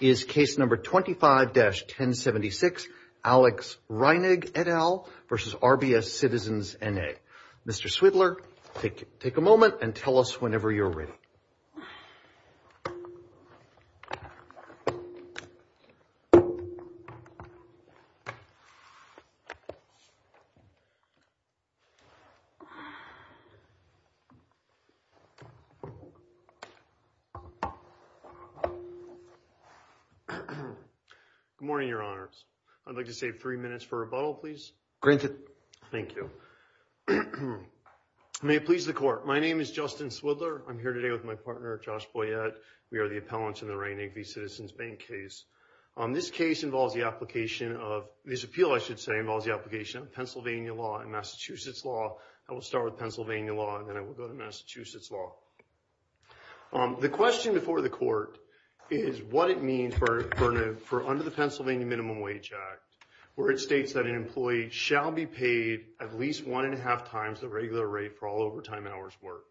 is case number 25-1076, Alex Reinig et al. versus RBS Citizens NA. Mr. Swidler, take a moment and tell us whenever you're ready. Good morning, Your Honors. I'd like to save three minutes for rebuttal, please. Thank you. May it please the Court. My name is Justin Swidler. I'm here today with my partner, Josh Boyett. We are the appellants in the Reinig v. Citizens bank case. This case involves the application of—this appeal, I should say, involves the application of Pennsylvania law and Massachusetts law. I will start with Pennsylvania law, and then I will go to Massachusetts law. The question before the Court is what it means for under the Pennsylvania Minimum Wage Act, where it states that an employee shall be paid at least one and a half times the regular rate for all overtime hours worked.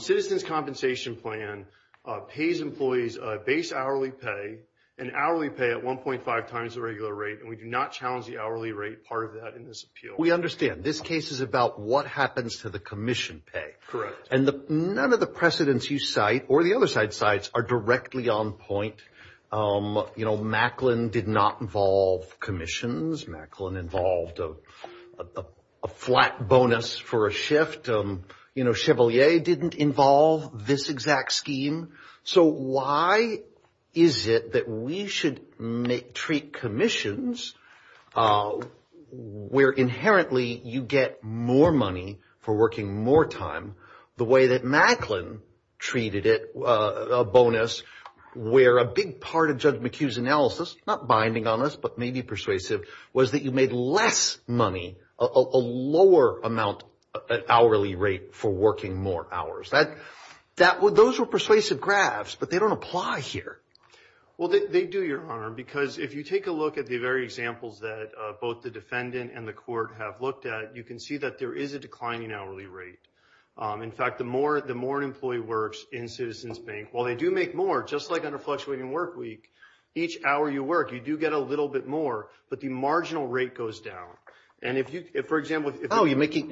Citizens' Compensation Plan pays employees a base hourly pay, an hourly pay at 1.5 times the regular rate, and we do not challenge the hourly rate part of that in this appeal. We understand. This case is about what happens to the commission pay. Correct. And none of the precedents you cite or the other side cites are directly on point. You know, Macklin did not involve commissions. Macklin involved a flat bonus for a shift. You know, Chevalier didn't involve this exact scheme. So why is it that we should treat commissions where inherently you get more money for working more time the way that Macklin treated it, a bonus where a big part of Judge McHugh's analysis, not binding on us but maybe persuasive, was that you made less money, a lower amount hourly rate for working more hours. Those were persuasive graphs, but they don't apply here. Well, they do, Your Honor, because if you take a look at the very examples that both the defendant and the court have looked at, you can see that there is a declining hourly rate. In fact, the more an employee works in Citizens Bank, while they do make more, just like under fluctuating work week, each hour you work you do get a little bit more, but the marginal rate goes down. And if you, for example, Oh, you're making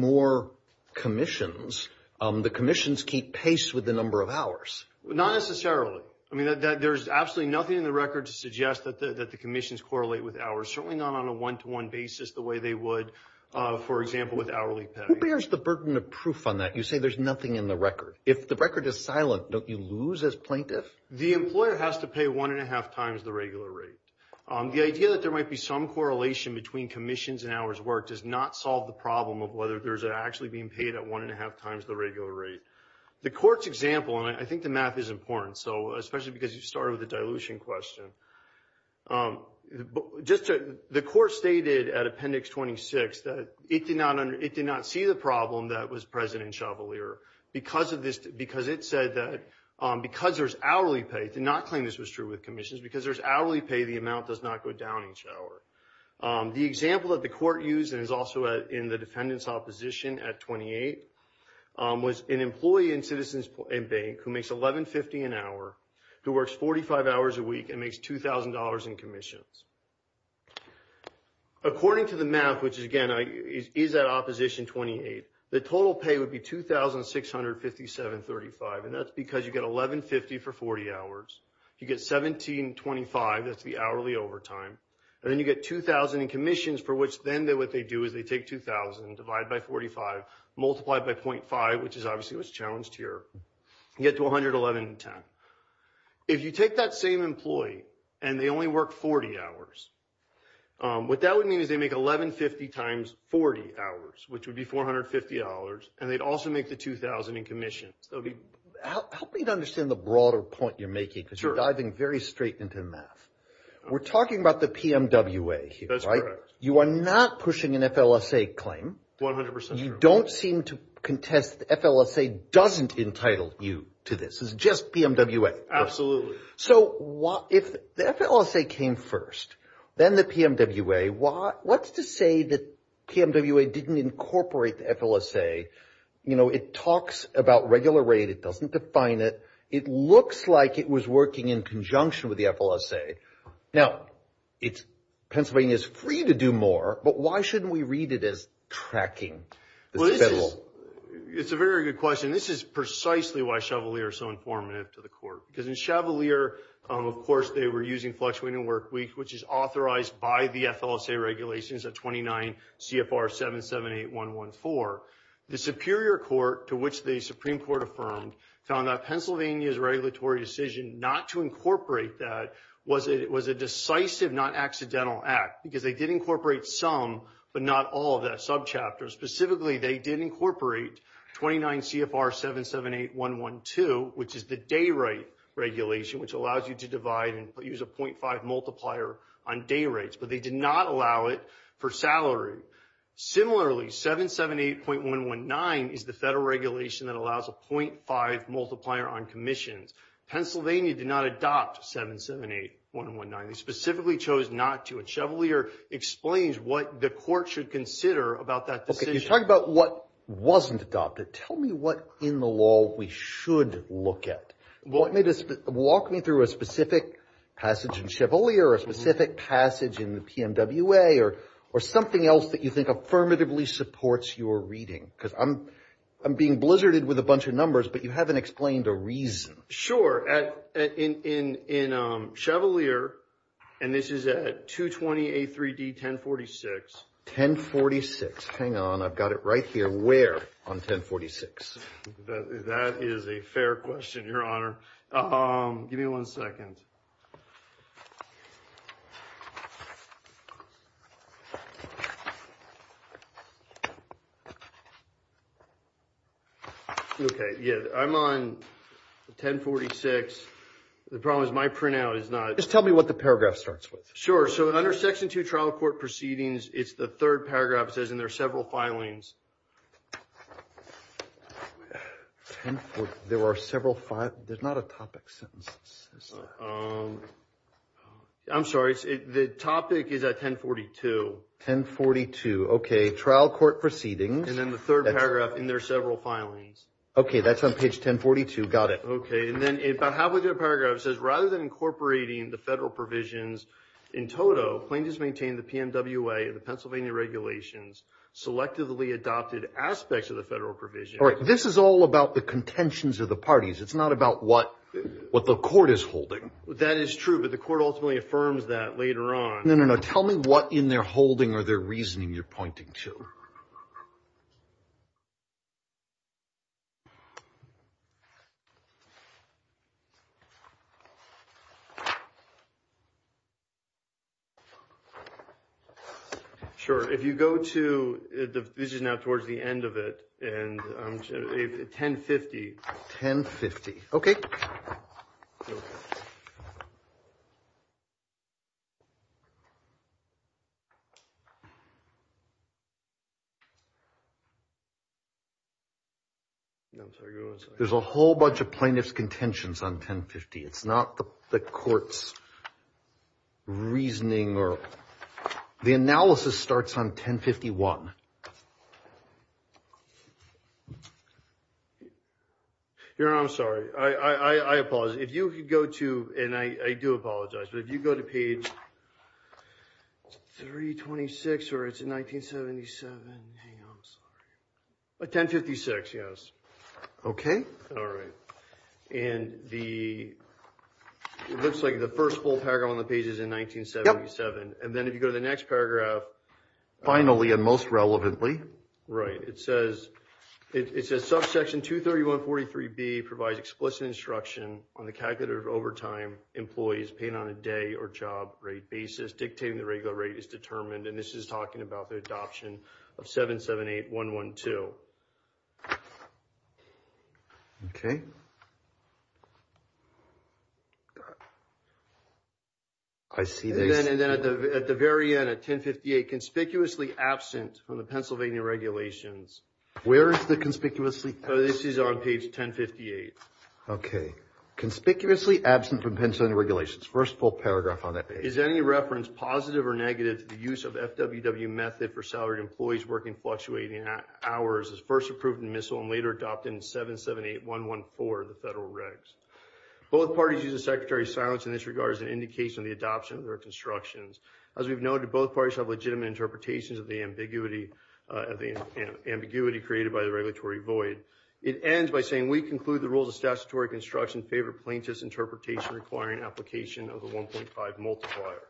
more commissions. The commissions keep pace with the number of hours. Not necessarily. I mean, there's absolutely nothing in the record to suggest that the commissions correlate with hours, certainly not on a one-to-one basis the way they would, for example, with hourly pay. Who bears the burden of proof on that? You say there's nothing in the record. If the record is silent, don't you lose as plaintiff? The employer has to pay one and a half times the regular rate. The idea that there might be some correlation between commissions and hours worked does not solve the problem of whether there's actually being paid at one and a half times the regular rate. The court's example, and I think the math is important, especially because you started with the dilution question. The court stated at Appendix 26 that it did not see the problem that was present in Chablis, because it said that because there's hourly pay, it did not claim this was true with commissions. Because there's hourly pay, the amount does not go down each hour. The example that the court used, and is also in the defendant's opposition at 28, was an employee in Citizens Bank who makes $11.50 an hour, who works 45 hours a week, and makes $2,000 in commissions. According to the math, which, again, is at Opposition 28, the total pay would be $2,657.35, and that's because you get $11.50 for 40 hours, you get $17.25, that's the hourly overtime, and then you get $2,000 in commissions, for which then what they do is they take $2,000, divide by 45, multiply it by .5, which is obviously what's challenged here, and get to $111.10. If you take that same employee, and they only work 40 hours, what that would mean is they make $11.50 times 40 hours, which would be $450, and they'd also make the $2,000 in commissions. Help me to understand the broader point you're making, because you're diving very straight into the math. We're talking about the PMWA here, right? That's correct. You are not pushing an FLSA claim. 100% true. You don't seem to contest the FLSA doesn't entitle you to this. It's just PMWA. Absolutely. If the FLSA came first, then the PMWA, what's to say that PMWA didn't incorporate the FLSA? It talks about regular rate. It doesn't define it. It looks like it was working in conjunction with the FLSA. Now, Pennsylvania is free to do more, but why shouldn't we read it as tracking? It's a very good question. This is precisely why Chevalier is so informative to the court, because in Chevalier, of course, they were using FlexWay and WorkWeek, which is authorized by the FLSA regulations at 29 CFR 778114. The Superior Court, to which the Supreme Court affirmed, found that Pennsylvania's regulatory decision not to incorporate that was a decisive, not accidental act, because they did incorporate some, but not all of that subchapter. Specifically, they did incorporate 29 CFR 778112, which is the day rate regulation, which allows you to divide and use a .5 multiplier on day rates, but they did not allow it for salary. Similarly, 778.119 is the federal regulation that allows a .5 multiplier on commissions. Pennsylvania did not adopt 778119. They specifically chose not to. But Chevalier explains what the court should consider about that decision. Okay, you talk about what wasn't adopted. Tell me what in the law we should look at. Walk me through a specific passage in Chevalier or a specific passage in the PMWA or something else that you think affirmatively supports your reading, because I'm being blizzarded with a bunch of numbers, but you haven't explained a reason. Sure. In Chevalier, and this is at 220A3D1046. 1046. Hang on. I've got it right here. Where on 1046? That is a fair question, Your Honor. Give me one second. Okay. Yeah, I'm on 1046. The problem is my printout is not. Just tell me what the paragraph starts with. Sure. So under Section 2, Trial Court Proceedings, it's the third paragraph. It says, and there are several filings. There are several filings. There's not a topic sentence. I'm sorry. The topic is at 1042. 1042. Okay. Trial Court Proceedings. And then the third paragraph, and there are several filings. Okay. That's on page 1042. Got it. Okay. And then about halfway through the paragraph, it says, rather than incorporating the federal provisions in toto, the Pennsylvania regulations selectively adopted aspects of the federal provisions. All right. This is all about the contentions of the parties. It's not about what the court is holding. That is true, but the court ultimately affirms that later on. No, no, no. Tell me what in their holding or their reasoning you're pointing to. Sure. If you go to, this is now towards the end of it. And 1050. 1050. Okay. There's a whole bunch of plaintiff's contentions on 1050. It's not the court's reasoning. The analysis starts on 1051. Your Honor, I'm sorry. I apologize. If you could go to, and I do apologize, but if you go to page 326, or it's in 1977. Hang on. I'm sorry. 1056, yes. Okay. All right. And the, it looks like the first full paragraph on the page is in 1977. And then if you go to the next paragraph. Finally, and most relevantly. Right. It says, it says subsection 23143B provides explicit instruction on the calculator of overtime employees paying on a day or job rate basis dictating the regular rate is determined. And this is talking about the adoption of 778-112. Okay. I see this. And then at the very end, at 1058, conspicuously absent from the Pennsylvania regulations. Where is the conspicuously absent? This is on page 1058. Okay. Conspicuously absent from Pennsylvania regulations. First full paragraph on that page. Is there any reference, positive or negative, to the use of FWW method for salaried employees working fluctuating hours as first approved in MISL and later adopted in 778-114 of the federal regs? Both parties use the secretary's silence in this regard as an indication of the adoption of their constructions. As we've noted, both parties have legitimate interpretations of the ambiguity created by the regulatory void. It ends by saying, we conclude the rules of statutory construction favor plaintiff's interpretation requiring application of the 1.5 multiplier.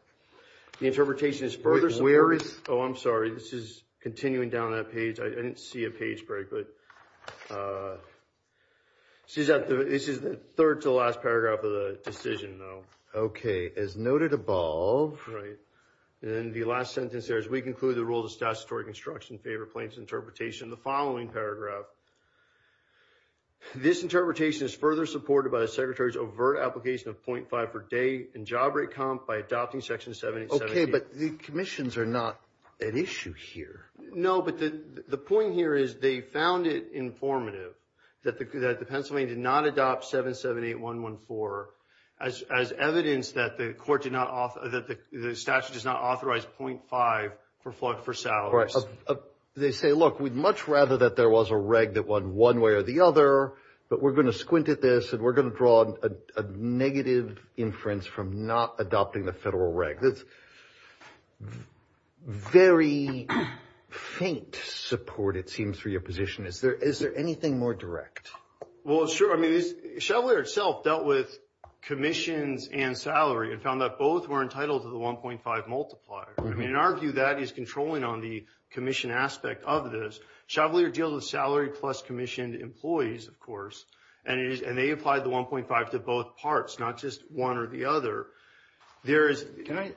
The interpretation is further. Where is? Oh, I'm sorry. This is continuing down that page. I didn't see a page break, but this is the third to last paragraph of the decision, though. Okay. As noted above. Right. And then the last sentence there is, we conclude the rules of statutory construction favor plaintiff's interpretation. The following paragraph. This interpretation is further supported by the secretary's overt application of 0.5 per day and job rate comp by adopting section 7878. Okay, but the commissions are not an issue here. No, but the point here is they found it informative that the Pennsylvania did not adopt 778-114 as evidence that the court did not, that the statute does not authorize 0.5 for flood for salaries. They say, look, we'd much rather that there was a reg that won one way or the other, but we're going to squint at this, and we're going to draw a negative inference from not adopting the federal reg. That's very faint support, it seems, for your position. Is there anything more direct? Well, sure. I mean, Chevolier itself dealt with commissions and salary and found that both were entitled to the 1.5 multiplier. I mean, in our view, that is controlling on the commission aspect of this. Chevolier deals with salary plus commissioned employees, of course, and they applied the 1.5 to both parts, not just one or the other. I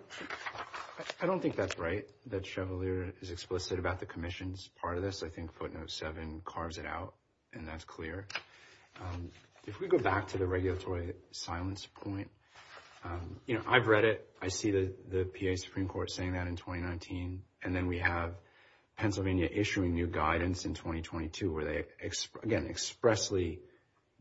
don't think that's right, that Chevolier is explicit about the commissions part of this. I think footnote 7 carves it out, and that's clear. If we go back to the regulatory silence point, you know, I've read it. I see the PA Supreme Court saying that in 2019, and then we have Pennsylvania issuing new guidance in 2022, where they, again, expressly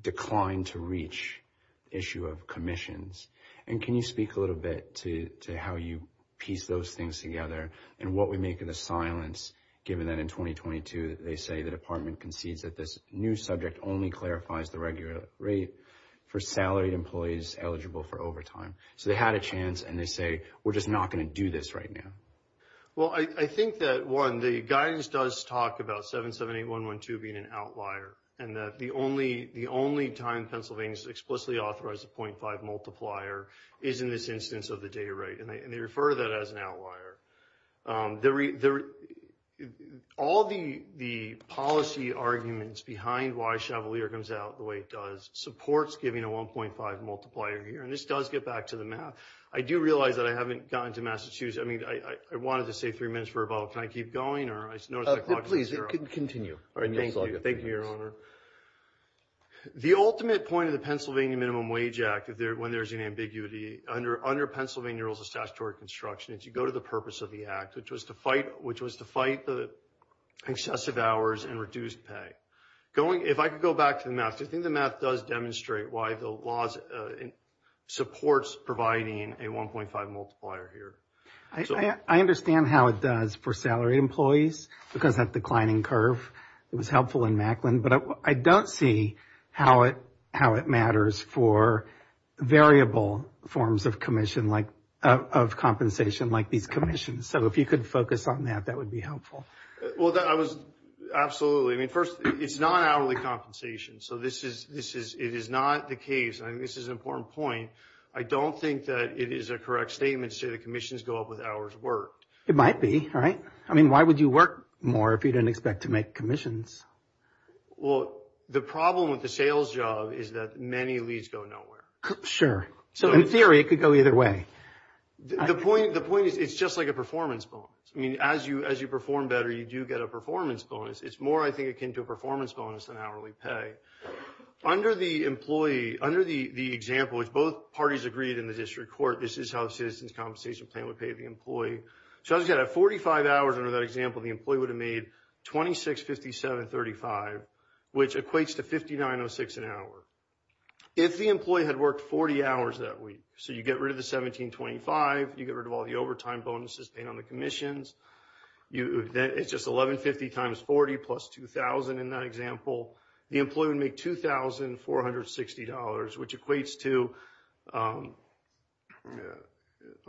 declined to reach the issue of commissions. And can you speak a little bit to how you piece those things together and what we make of the silence, given that in 2022 they say the department concedes that this new subject only clarifies the regular rate for salaried employees eligible for overtime. So they had a chance, and they say, we're just not going to do this right now. Well, I think that, one, the guidance does talk about 778.112 being an outlier, and that the only time Pennsylvania has explicitly authorized a 0.5 multiplier is in this instance of the day rate, and they refer to that as an outlier. All the policy arguments behind why Chevolier comes out the way it does supports giving a 1.5 multiplier here, and this does get back to the math. I do realize that I haven't gotten to Massachusetts. I mean, I wanted to say three minutes for a vote. Can I keep going? Please continue. All right, thank you. Thank you, Your Honor. The ultimate point of the Pennsylvania Minimum Wage Act, when there's an ambiguity, under Pennsylvania Rules of Statutory Construction is you go to the purpose of the act, which was to fight excessive hours and reduce pay. If I could go back to the math, do you think the math does demonstrate why the laws supports providing a 1.5 multiplier here? I understand how it does for salaried employees, because that declining curve was helpful in Macklin, but I don't see how it matters for variable forms of compensation like these commissions. So if you could focus on that, that would be helpful. Well, absolutely. I mean, first, it's not hourly compensation, so it is not the case. I think this is an important point. I don't think that it is a correct statement to say the commissions go up with hours worked. It might be, right? I mean, why would you work more if you didn't expect to make commissions? Well, the problem with the sales job is that many leads go nowhere. Sure. So in theory, it could go either way. The point is it's just like a performance bonus. I mean, as you perform better, you do get a performance bonus. It's more, I think, akin to a performance bonus than hourly pay. Under the example, which both parties agreed in the district court, this is how the Citizens' Compensation Plan would pay the employee. So as a matter of fact, at 45 hours under that example, the employee would have made $26,5735, which equates to $59.06 an hour. If the employee had worked 40 hours that week, so you get rid of the $17.25, you get rid of all the overtime bonuses paid on the commissions. It's just $11.50 times 40 plus $2,000 in that example. The employee would make $2,460, which equates to – I'm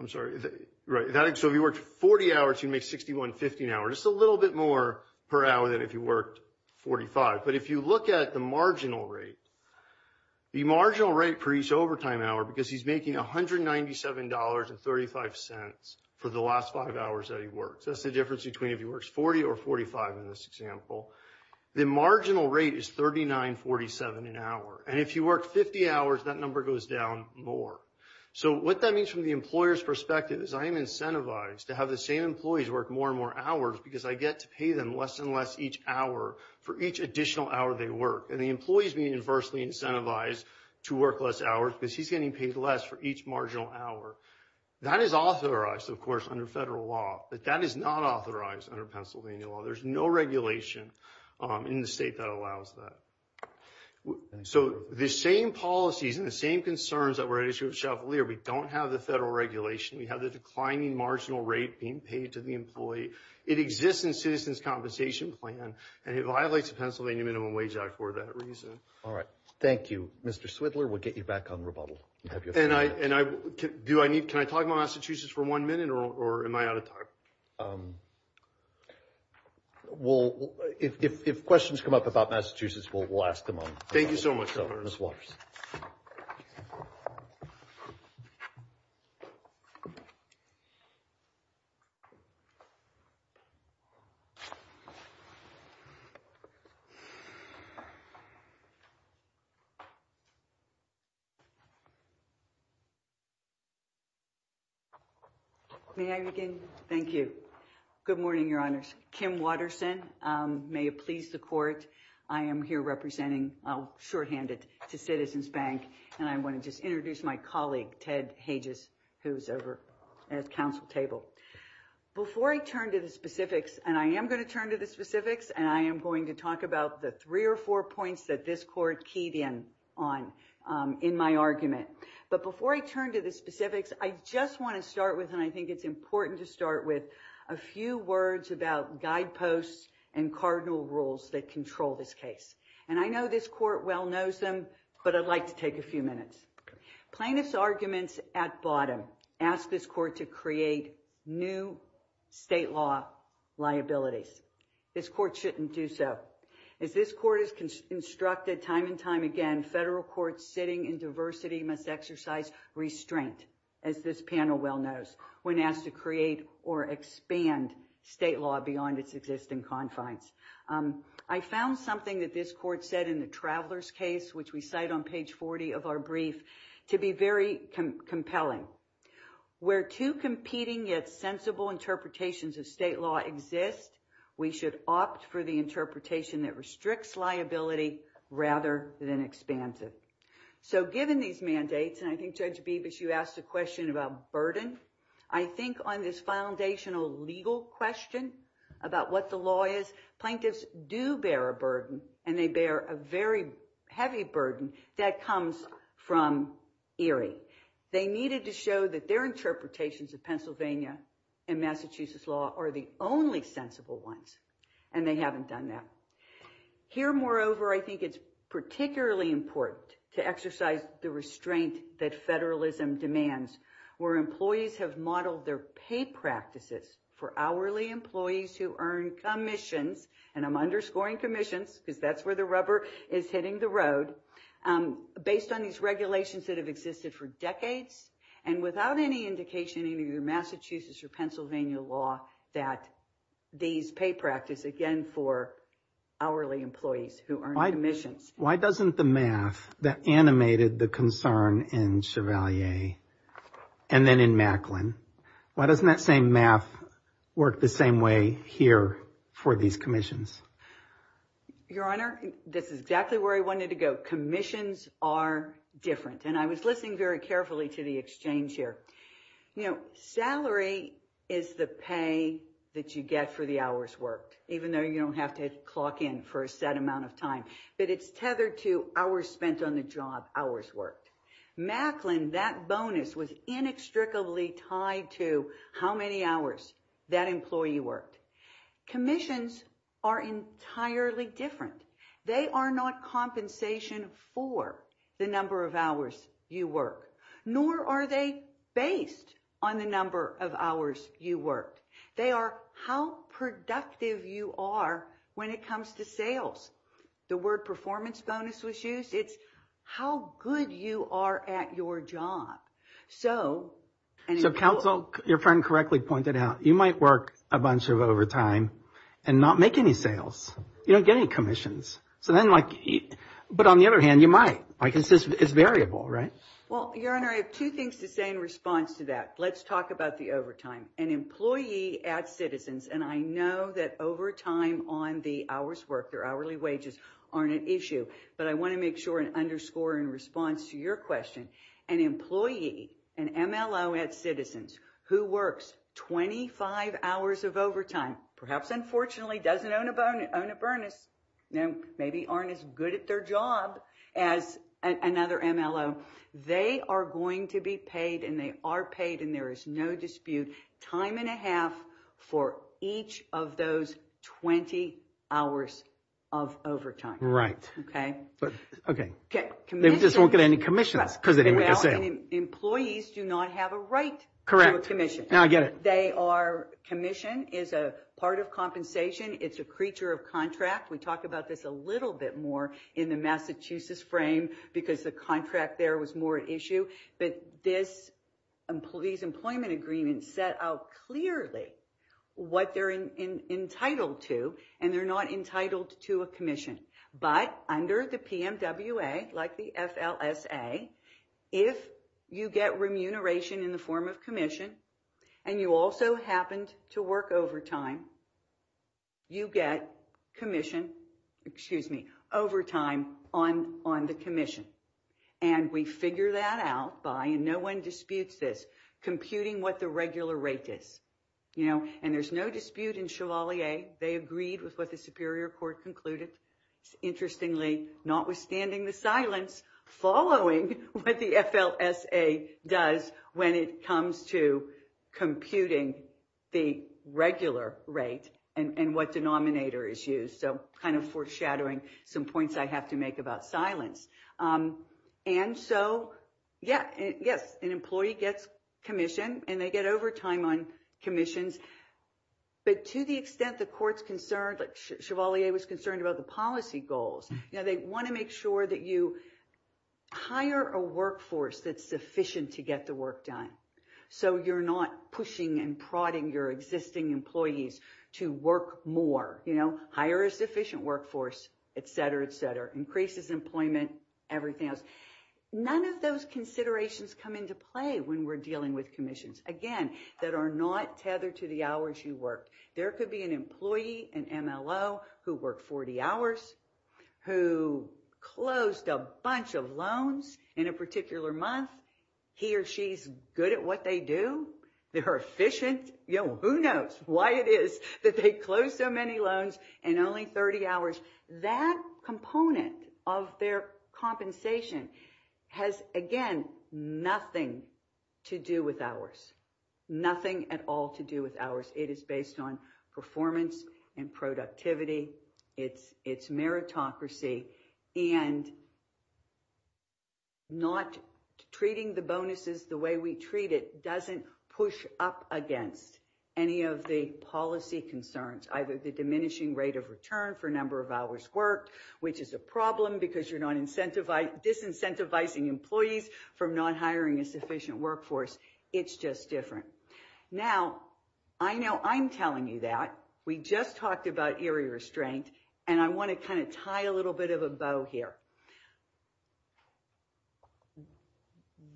sorry. Right. So if you worked 40 hours, you'd make $61.15 an hour, just a little bit more per hour than if you worked 45. But if you look at the marginal rate, the marginal rate per each overtime hour, because he's making $197.35 for the last five hours that he worked. That's the difference between if he works 40 or 45 in this example. The marginal rate is $39.47 an hour, and if you work 50 hours, that number goes down more. So what that means from the employer's perspective is I am incentivized to have the same employees work more and more hours because I get to pay them less and less each hour for each additional hour they work. And the employee is being inversely incentivized to work less hours because he's getting paid less for each marginal hour. That is authorized, of course, under federal law, but that is not authorized under Pennsylvania law. There's no regulation in the state that allows that. So the same policies and the same concerns that were at issue with Shelfalier, we don't have the federal regulation. We have the declining marginal rate being paid to the employee. It exists in Citizens' Compensation Plan, and it violates the Pennsylvania Minimum Wage Act for that reason. All right. Thank you. Mr. Swidler, we'll get you back on rebuttal. Can I talk about Massachusetts for one minute, or am I out of time? Well, if questions come up about Massachusetts, we'll ask them on. Thank you so much, Governor. Ms. Waters. May I begin? Thank you. Good morning, Your Honors. Kim Waterson. May it please the Court, I am here representing, I'll shorthand it to Citizens Bank, and I want to just introduce my colleague, Ted Hages, who's over at the Council table. Before I turn to the specifics, and I am going to turn to the specifics, and I am going to talk about the three or four points that this Court keyed in on in my argument. But before I turn to the specifics, I just want to start with, and I think it's important to start with, a few words about guideposts and cardinal rules that control this case. And I know this Court well knows them, but I'd like to take a few minutes. Plaintiffs' arguments at bottom ask this Court to create new state law liabilities. This Court shouldn't do so. As this Court has constructed time and time again, federal courts sitting in diversity must exercise restraint, as this panel well knows, when asked to create or expand state law beyond its existing confines. I found something that this Court said in the Traveler's case, which we cite on page 40 of our brief, to be very compelling. Where two competing yet sensible interpretations of state law exist, we should opt for the interpretation that restricts liability rather than expands it. So given these mandates, and I think Judge Bibas, you asked a question about burden. I think on this foundational legal question about what the law is, plaintiffs do bear a burden, and they bear a very heavy burden that comes from Erie. They needed to show that their interpretations of Pennsylvania and Massachusetts law are the only sensible ones, and they haven't done that. Here, moreover, I think it's particularly important to exercise the restraint that federalism demands, where employees have modeled their pay practices for hourly employees who earn commissions, and I'm underscoring commissions, because that's where the rubber is hitting the road, based on these regulations that have existed for decades, and without any indication in either Massachusetts or Pennsylvania law that these pay practices, again, for hourly employees who earn commissions. Why doesn't the math that animated the concern in Chevalier and then in Macklin, why doesn't that same math work the same way here for these commissions? Your Honor, this is exactly where I wanted to go. Commissions are different, and I was listening very carefully to the exchange here. Salary is the pay that you get for the hours worked, even though you don't have to clock in for a set amount of time, but it's tethered to hours spent on the job, hours worked. Macklin, that bonus was inextricably tied to how many hours that employee worked. Commissions are entirely different. They are not compensation for the number of hours you work, nor are they based on the number of hours you worked. They are how productive you are when it comes to sales. The word performance bonus was used. It's how good you are at your job. So counsel, your friend correctly pointed out, you might work a bunch of overtime and not make any sales. You don't get any commissions. But on the other hand, you might. It's variable, right? Well, Your Honor, I have two things to say in response to that. Let's talk about the overtime. An employee at Citizens, and I know that overtime on the hours worked, their hourly wages, aren't an issue, but I want to make sure and underscore in response to your question, an employee, an MLO at Citizens who works 25 hours of overtime, perhaps unfortunately doesn't own a bonus, maybe aren't as good at their job as another MLO, they are going to be paid, and they are paid, and there is no dispute, time and a half for each of those 20 hours of overtime. Right. Okay? Okay. They just won't get any commissions because they didn't make a sale. Employees do not have a right to a commission. Now I get it. Commission is a part of compensation. It's a creature of contract. We talk about this a little bit more in the Massachusetts frame because the contract there was more at issue. But these employment agreements set out clearly what they're entitled to, and they're not entitled to a commission. But under the PMWA, like the FLSA, if you get remuneration in the form of commission and you also happened to work overtime, you get commission, excuse me, overtime on the commission. And we figure that out by, and no one disputes this, computing what the regular rate is. You know, and there's no dispute in Chevalier. They agreed with what the Superior Court concluded. Interestingly, notwithstanding the silence, following what the FLSA does when it comes to computing the regular rate and what denominator is used. So kind of foreshadowing some points I have to make about silence. And so, yeah, yes, an employee gets commission and they get overtime on commissions. But to the extent the court's concerned, Chevalier was concerned about the policy goals. You know, they want to make sure that you hire a workforce that's sufficient to get the work done. So you're not pushing and prodding your existing employees to work more. You know, hire a sufficient workforce, et cetera, et cetera. Increases employment, everything else. None of those considerations come into play when we're dealing with commissions. Again, that are not tethered to the hours you work. There could be an employee, an MLO, who worked 40 hours, who closed a bunch of loans in a particular month. He or she's good at what they do. They're efficient. You know, who knows why it is that they closed so many loans in only 30 hours. That component of their compensation has, again, nothing to do with hours. Nothing at all to do with hours. It is based on performance and productivity. It's meritocracy. And not treating the bonuses the way we treat it doesn't push up against any of the policy concerns, either the diminishing rate of return for number of hours worked, which is a problem because you're disincentivizing employees from not hiring a sufficient workforce. It's just different. Now, I know I'm telling you that. We just talked about eerie restraint, and I want to kind of tie a little bit of a bow here.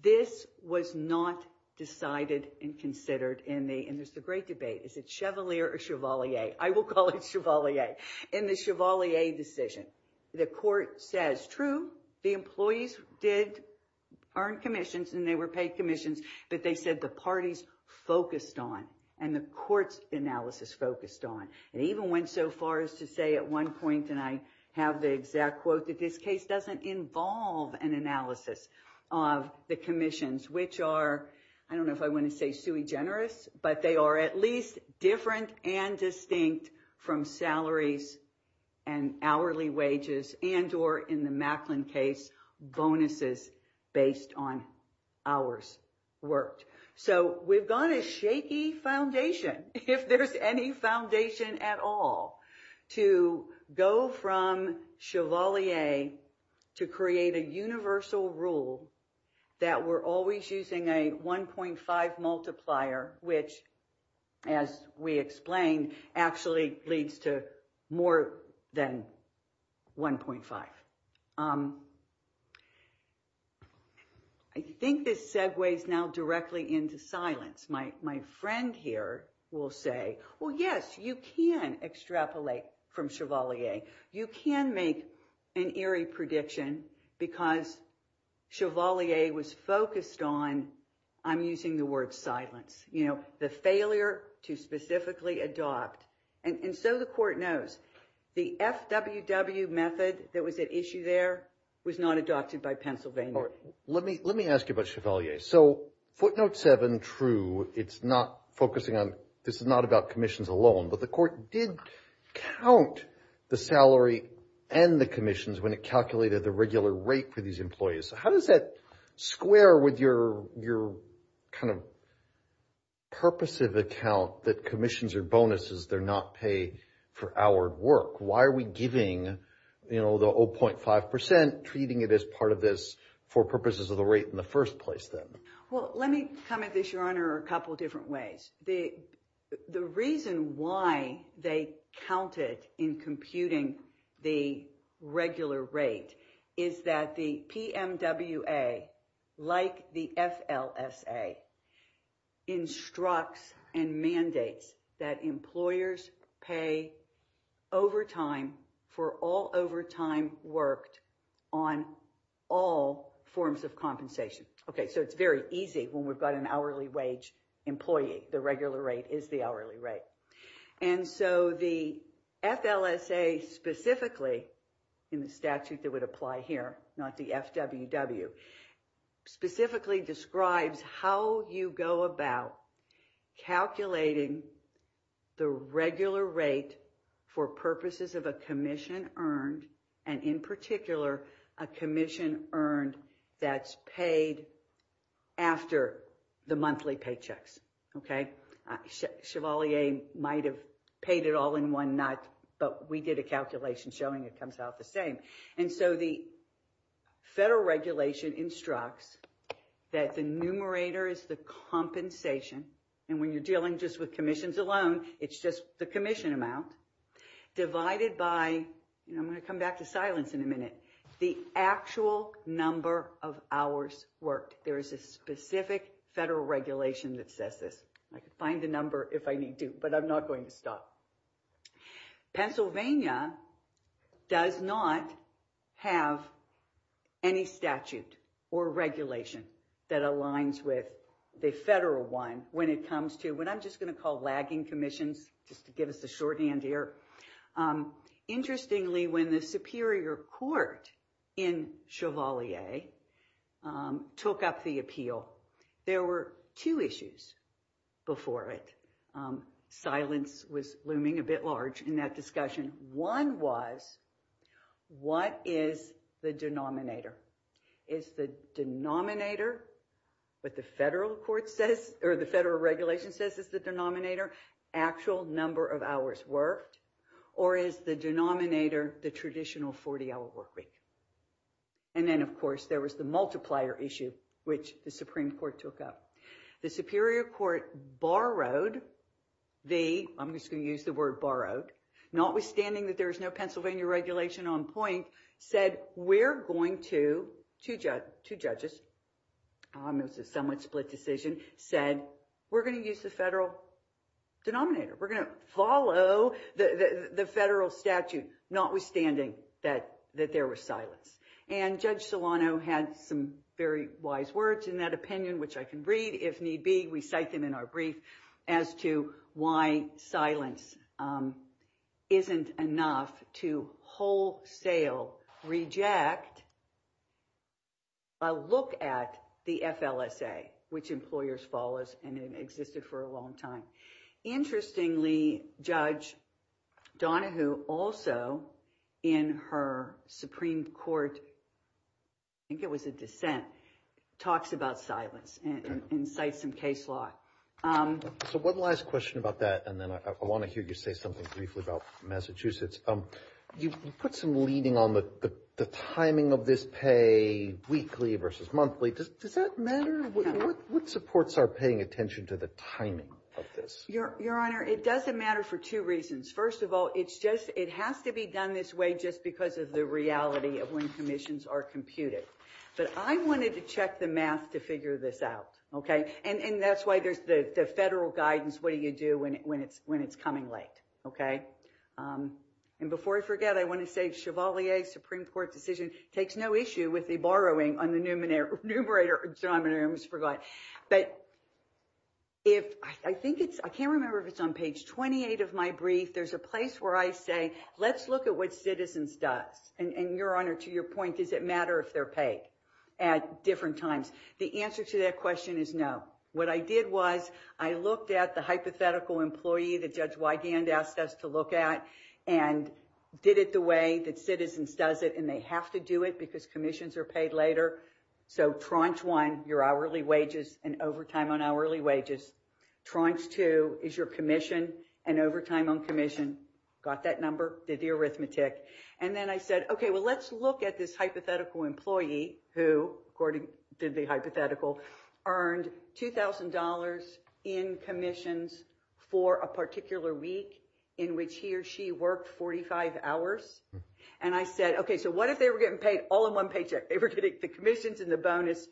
This was not decided and considered in the, and this is a great debate, is it Chevalier or Chevalier? I will call it Chevalier. In the Chevalier decision, the court says, true, the employees did earn commissions and they were paid commissions, but they said the parties focused on and the court's analysis focused on. It even went so far as to say at one point, and I have the exact quote, that this case doesn't involve an analysis of the commissions, which are, I don't know if I want to say sui generis, but they are at least different and distinct from salaries and hourly wages and or in the Macklin case bonuses based on hours worked. So we've got a shaky foundation, if there's any foundation at all, to go from Chevalier to create a universal rule that we're always using a 1.5 I think this segues now directly into silence. My friend here will say, well, yes, you can extrapolate from Chevalier. You can make an eerie prediction because Chevalier was focused on, I'm using the word silence, you know, the failure to specifically adopt. And so the court knows the FWW method that was at issue there was not adopted by Pennsylvania. Let me ask you about Chevalier. So footnote seven, true, it's not focusing on, this is not about commissions alone, but the court did count the salary and the commissions when it calculated the regular rate for these employees. How does that square with your kind of purposive account that commissions are bonuses, they're not paid for hour work? Why are we giving, you know, the 0.5% treating it as part of this for purposes of the rate in the first place then? Well, let me come at this, Your Honor, a couple of different ways. The reason why they counted in computing the regular rate is that the PMWA, like the FLSA, instructs and mandates that employers pay overtime for all overtime worked on all forms of compensation. Okay, so it's very easy when we've got an hourly wage employee. The regular rate is the hourly rate. And so the FLSA specifically, in the statute that would apply here, not the FWW, specifically describes how you go about calculating the regular rate for purposes of a commission earned and in particular a commission earned that's paid after the monthly paychecks. Okay, Chevalier might have paid it all in one night, but we did a calculation showing it comes out the same. And so the federal regulation instructs that the numerator is the compensation. And when you're dealing just with commissions alone, it's just the commission amount divided by, and I'm going to come back to silence in a minute, the actual number of hours worked. There is a specific federal regulation that says this. I can find the number if I need to, but I'm not going to stop. Pennsylvania does not have any statute or regulation that aligns with the federal one when it comes to what I'm just going to call lagging commissions, just to give us a shorthand here. Interestingly, when the Superior Court in Chevalier took up the appeal, there were two issues before it. Silence was looming a bit large in that discussion. One was, what is the denominator? Is the denominator what the federal court says, or the federal regulation says is the denominator, actual number of hours worked, or is the denominator the traditional 40-hour work week? And then, of course, there was the multiplier issue, which the Supreme Court took up. The Superior Court borrowed the, I'm just going to use the word borrowed, notwithstanding that there is no Pennsylvania regulation on point, said we're going to, two judges, it was a somewhat split decision, said we're going to use the federal denominator. We're going to follow the federal statute, notwithstanding that there was silence. And Judge Solano had some very wise words in that opinion, which I can read if need be. We cite them in our brief as to why silence isn't enough to wholesale reject a look at the FLSA, which employers follow and has existed for a long time. Interestingly, Judge Donahue also, in her Supreme Court, I think it was a dissent, talks about silence and cites some case law. So one last question about that, and then I want to hear you say something briefly about Massachusetts. You put some leading on the timing of this pay, weekly versus monthly. Does that matter? What supports are paying attention to the timing of this? Your Honor, it doesn't matter for two reasons. First of all, it's just, it has to be done this way just because of the reality of when commissions are computed. But I wanted to check the math to figure this out, okay? And that's why there's the federal guidance, what do you do when it's coming late, okay? And before I forget, I want to say Chevalier Supreme Court decision takes no issue with the borrowing on the numerator. I almost forgot. But if I think it's, I can't remember if it's on page 28 of my brief, there's a place where I say, let's look at what citizens does. And your Honor, to your point, does it matter if they're paid at different times? The answer to that question is no. What I did was I looked at the hypothetical employee that Judge Wigand asked us to look at and did it the way that citizens does it. And they have to do it because commissions are paid later. So tranche one, your hourly wages and overtime on hourly wages. Tranche two is your commission and overtime on commission. Got that number, did the arithmetic. And then I said, okay, well, let's look at this hypothetical employee who according to the hypothetical earned $2,000 in commissions for a particular week. In which he or she worked 45 hours. And I said, okay, so what if they were getting paid all in one paycheck? They were getting the commissions and the bonus.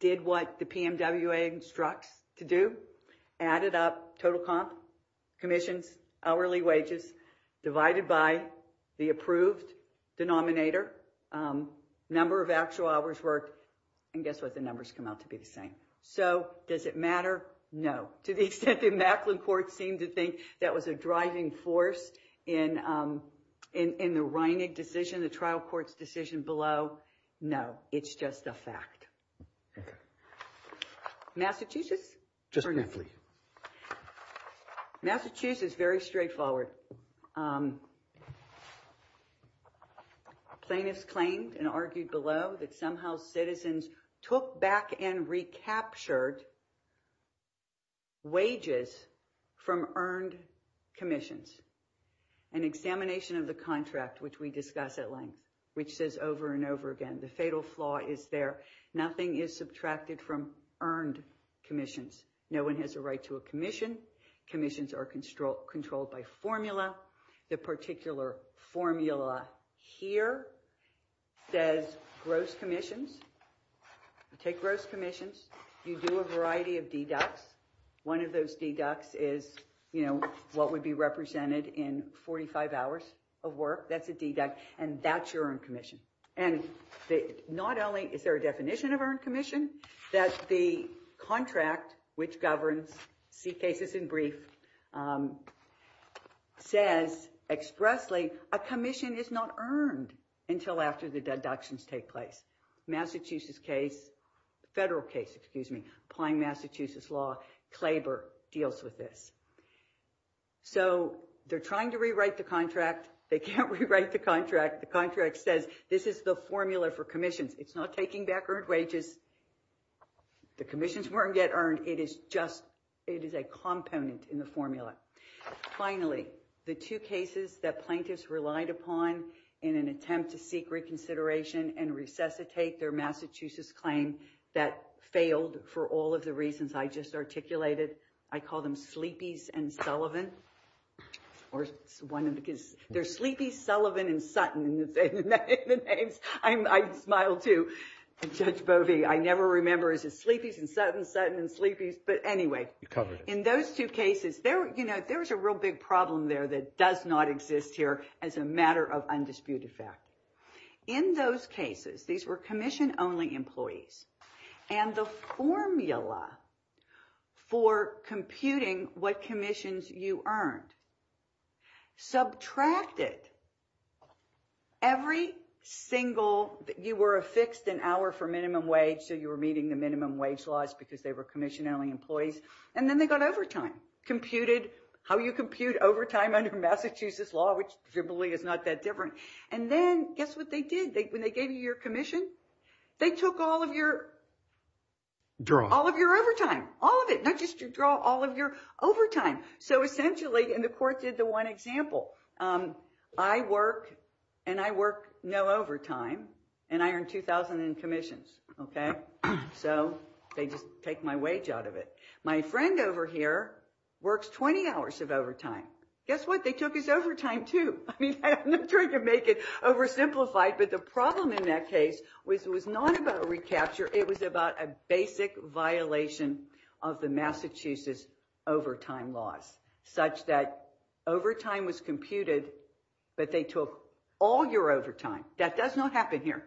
Did what the PMWA instructs to do. Added up total comp, commissions, hourly wages. Divided by the approved denominator. Number of actual hours worked. And guess what? The numbers come out to be the same. So does it matter? No. To the extent that Macklin Court seemed to think that was a driving force in the Reinig decision, the trial court's decision below. No, it's just a fact. Massachusetts? Just briefly. Massachusetts, very straightforward. Plaintiffs claimed and argued below that somehow citizens took back and recaptured wages from earned commissions. An examination of the contract, which we discuss at length, which says over and over again, the fatal flaw is there. Nothing is subtracted from earned commissions. No one has a right to a commission. Commissions are controlled by formula. The particular formula here says gross commissions. Take gross commissions. You do a variety of deducts. One of those deducts is what would be represented in 45 hours of work. That's a deduct, and that's your earned commission. And not only is there a definition of earned commission, that the contract, which governs C cases in brief, says expressly a commission is not earned until after the deductions take place. Massachusetts case, federal case, excuse me, applying Massachusetts law, Klaber deals with this. So they're trying to rewrite the contract. They can't rewrite the contract. The contract says this is the formula for commissions. It's not taking back earned wages. The commissions weren't yet earned. It is a component in the formula. Finally, the two cases that plaintiffs relied upon in an attempt to seek reconsideration and resuscitate their Massachusetts claim that failed for all of the reasons I just articulated, I call them Sleepy's and Sullivan. They're Sleepy's, Sullivan, and Sutton. I smile, too. Judge Bovee, I never remember. Is it Sleepy's and Sutton, Sutton and Sleepy's? But anyway, in those two cases, there was a real big problem there that does not exist here as a matter of undisputed fact. In those cases, these were commission-only employees, and the formula for computing what commissions you earned subtracted every single... You were affixed an hour for minimum wage, so you were meeting the minimum wage laws because they were commission-only employees, and then they got overtime, how you compute overtime under Massachusetts law, which generally is not that different. And then, guess what they did? When they gave you your commission, they took all of your overtime, all of it, not just your draw, all of your overtime. So essentially, and the court did the one example, I work, and I work no overtime, and I earn $2,000 in commissions, okay? So they just take my wage out of it. My friend over here works 20 hours of overtime. Guess what? They took his overtime, too. I mean, I'm not trying to make it oversimplified, but the problem in that case was not about a recapture. It was about a basic violation of the Massachusetts overtime laws such that overtime was computed, but they took all your overtime. That does not happen here.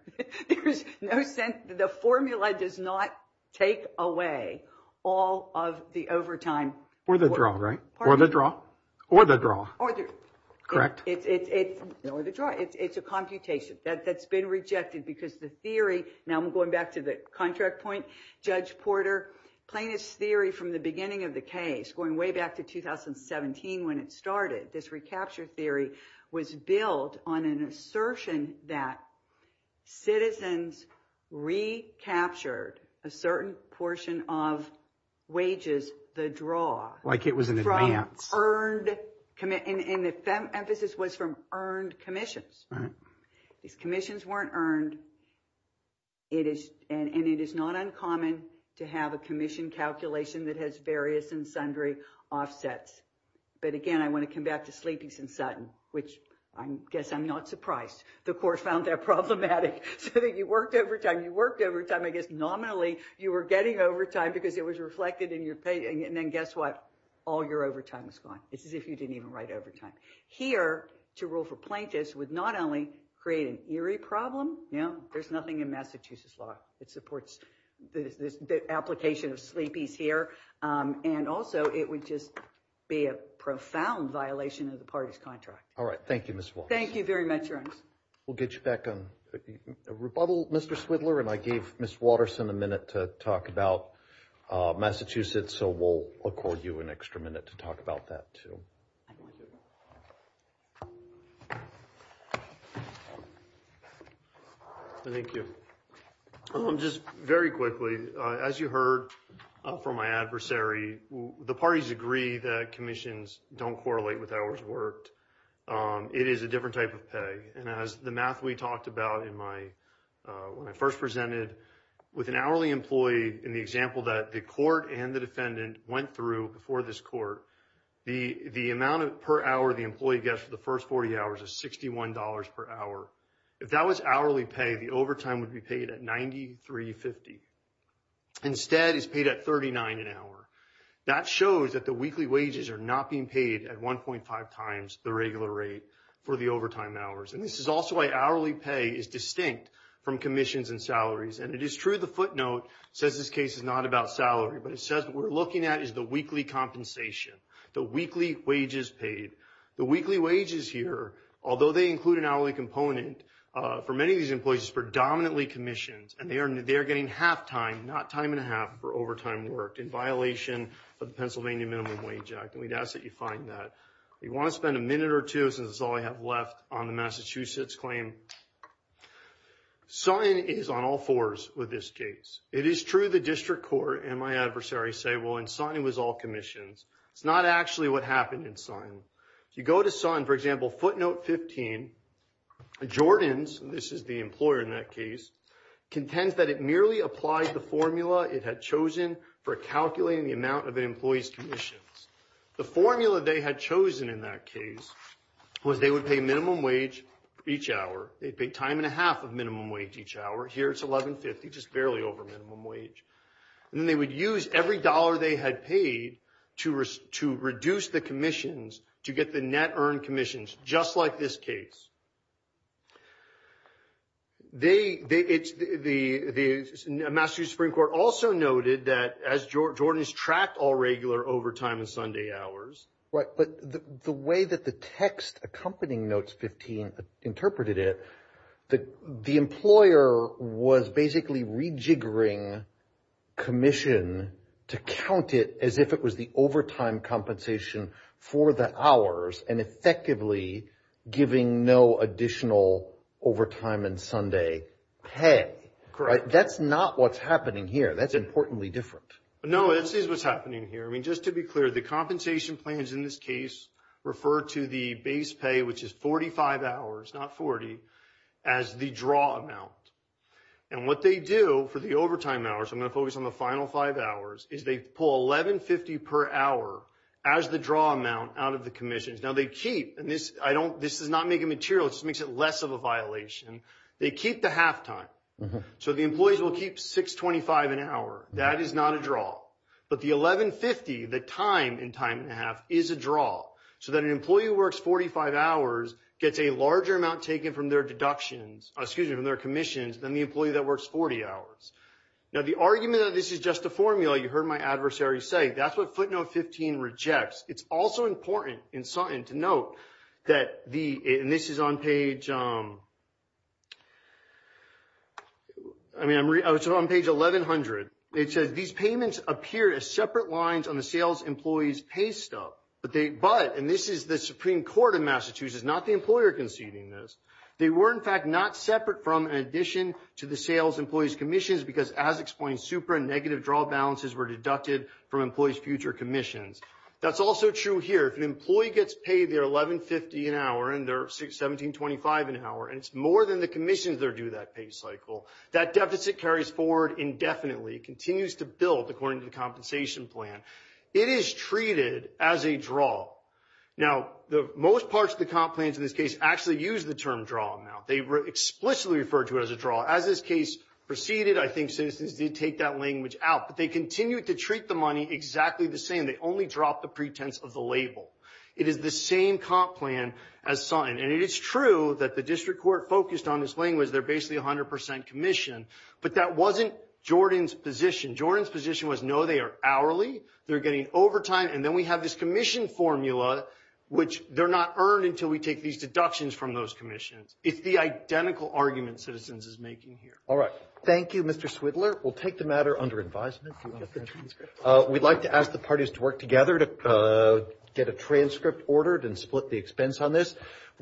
There's no sense. The formula does not take away all of the overtime. Or the draw, right? Or the draw. Or the draw. Correct. Or the draw. It's a computation. That's been rejected because the theory, now I'm going back to the contract point, Judge Porter, plaintiff's theory from the beginning of the case, going way back to 2017 when it started, this recapture theory was built on an assertion that citizens recaptured a certain portion of wages, the draw. Like it was an advance. And the emphasis was from earned commissions. These commissions weren't earned, and it is not uncommon to have a commission calculation that has various and sundry offsets. But, again, I want to come back to Sleepy's and Sutton, which I guess I'm not surprised. The court found that problematic. So you worked overtime. You worked overtime. I guess nominally you were getting overtime because it was reflected in your pay. And then guess what? All your overtime is gone. It's as if you didn't even write overtime. Here, to rule for plaintiffs would not only create an eerie problem, you know, there's nothing in Massachusetts law that supports the application of Sleepy's here, and also it would just be a profound violation of the party's contract. All right. Thank you, Ms. Wallace. Thank you very much, Ernst. We'll get you back on rebuttal, Mr. Swidler, and I gave Ms. Watterson a minute to talk about Massachusetts, so we'll accord you an extra minute to talk about that too. Thank you. Just very quickly, as you heard from my adversary, the parties agree that commissions don't correlate with hours worked. It is a different type of pay, and as the math we talked about when I first presented, with an hourly employee in the example that the court and the defendant went through before this court, the amount per hour the employee gets for the first 40 hours is $61 per hour. If that was hourly pay, the overtime would be paid at $93.50. Instead, it's paid at $39 an hour. That shows that the weekly wages are not being paid at 1.5 times the regular rate for the overtime hours, and this is also why hourly pay is distinct from commissions and salaries, and it is true the footnote says this case is not about salary, but it says what we're looking at is the weekly compensation, the weekly wages paid. The weekly wages here, although they include an hourly component, for many of these employees it's predominantly commissions, and they are getting half time, not time and a half, for overtime work in violation of the Pennsylvania Minimum Wage Act, and we'd ask that you find that. You want to spend a minute or two, since that's all I have left, on the Massachusetts claim. Sunn is on all fours with this case. It is true the district court and my adversary say, well, in Sunn it was all commissions. It's not actually what happened in Sunn. If you go to Sunn, for example, footnote 15, Jordan's, and this is the employer in that case, contends that it merely applied the formula it had chosen for calculating the amount of an employee's commissions. The formula they had chosen in that case was they would pay minimum wage each hour. They'd pay time and a half of minimum wage each hour. Here it's $11.50, just barely over minimum wage. Then they would use every dollar they had paid to reduce the commissions to get the net earned commissions, just like this case. The Massachusetts Supreme Court also noted that, as Jordan's tracked all regular overtime and Sunday hours... Right, but the way that the text accompanying notes 15 interpreted it, the employer was basically rejiggering commission to count it as if it was the overtime compensation for the hours and effectively giving no additional overtime and Sunday pay. That's not what's happening here. That's importantly different. No, this is what's happening here. Just to be clear, the compensation plans in this case refer to the base pay, which is 45 hours, not 40, as the draw amount. What they do for the overtime hours, I'm going to focus on the final five hours, is they pull $11.50 per hour as the draw amount out of the commissions. This does not make it material. It just makes it less of a violation. They keep the halftime, so the employees will keep $6.25 an hour. That is not a draw, but the $11.50, the time in time and a half, is a draw, so that an employee who works 45 hours gets a larger amount taken from their deductions, excuse me, from their commissions than the employee that works 40 hours. Now, the argument that this is just a formula, you heard my adversary say, that's what footnote 15 rejects. It's also important to note that the, and this is on page, I mean, it's on page 1,100. It says, these payments appear as separate lines on the sales employees pay stuff, but, and this is the Supreme Court of Massachusetts, not the employer conceding this. They were, in fact, not separate from, in addition to the sales employees' commissions because, as explained, super and negative draw balances were deducted from employees' future commissions. That's also true here. If an employee gets paid their $11.50 an hour and their $17.25 an hour, and it's more than the commissions that are due that pay cycle, that deficit carries forward indefinitely. It continues to build according to the compensation plan. It is treated as a draw. Now, most parts of the comp plans in this case actually use the term draw amount. They explicitly refer to it as a draw. As this case proceeded, I think citizens did take that language out, but they continued to treat the money exactly the same. They only dropped the pretense of the label. It is the same comp plan as signed, and it is true that the district court focused on this language, they're basically 100% commission, but that wasn't Jordan's position. Jordan's position was, no, they are hourly, they're getting overtime, and then we have this commission formula, which they're not earned until we take these deductions from those commissions. It's the identical argument citizens is making here. All right. Thank you, Mr. Swidler. We'll take the matter under advisement. We'd like to ask the parties to work together to get a transcript ordered and split the expense on this.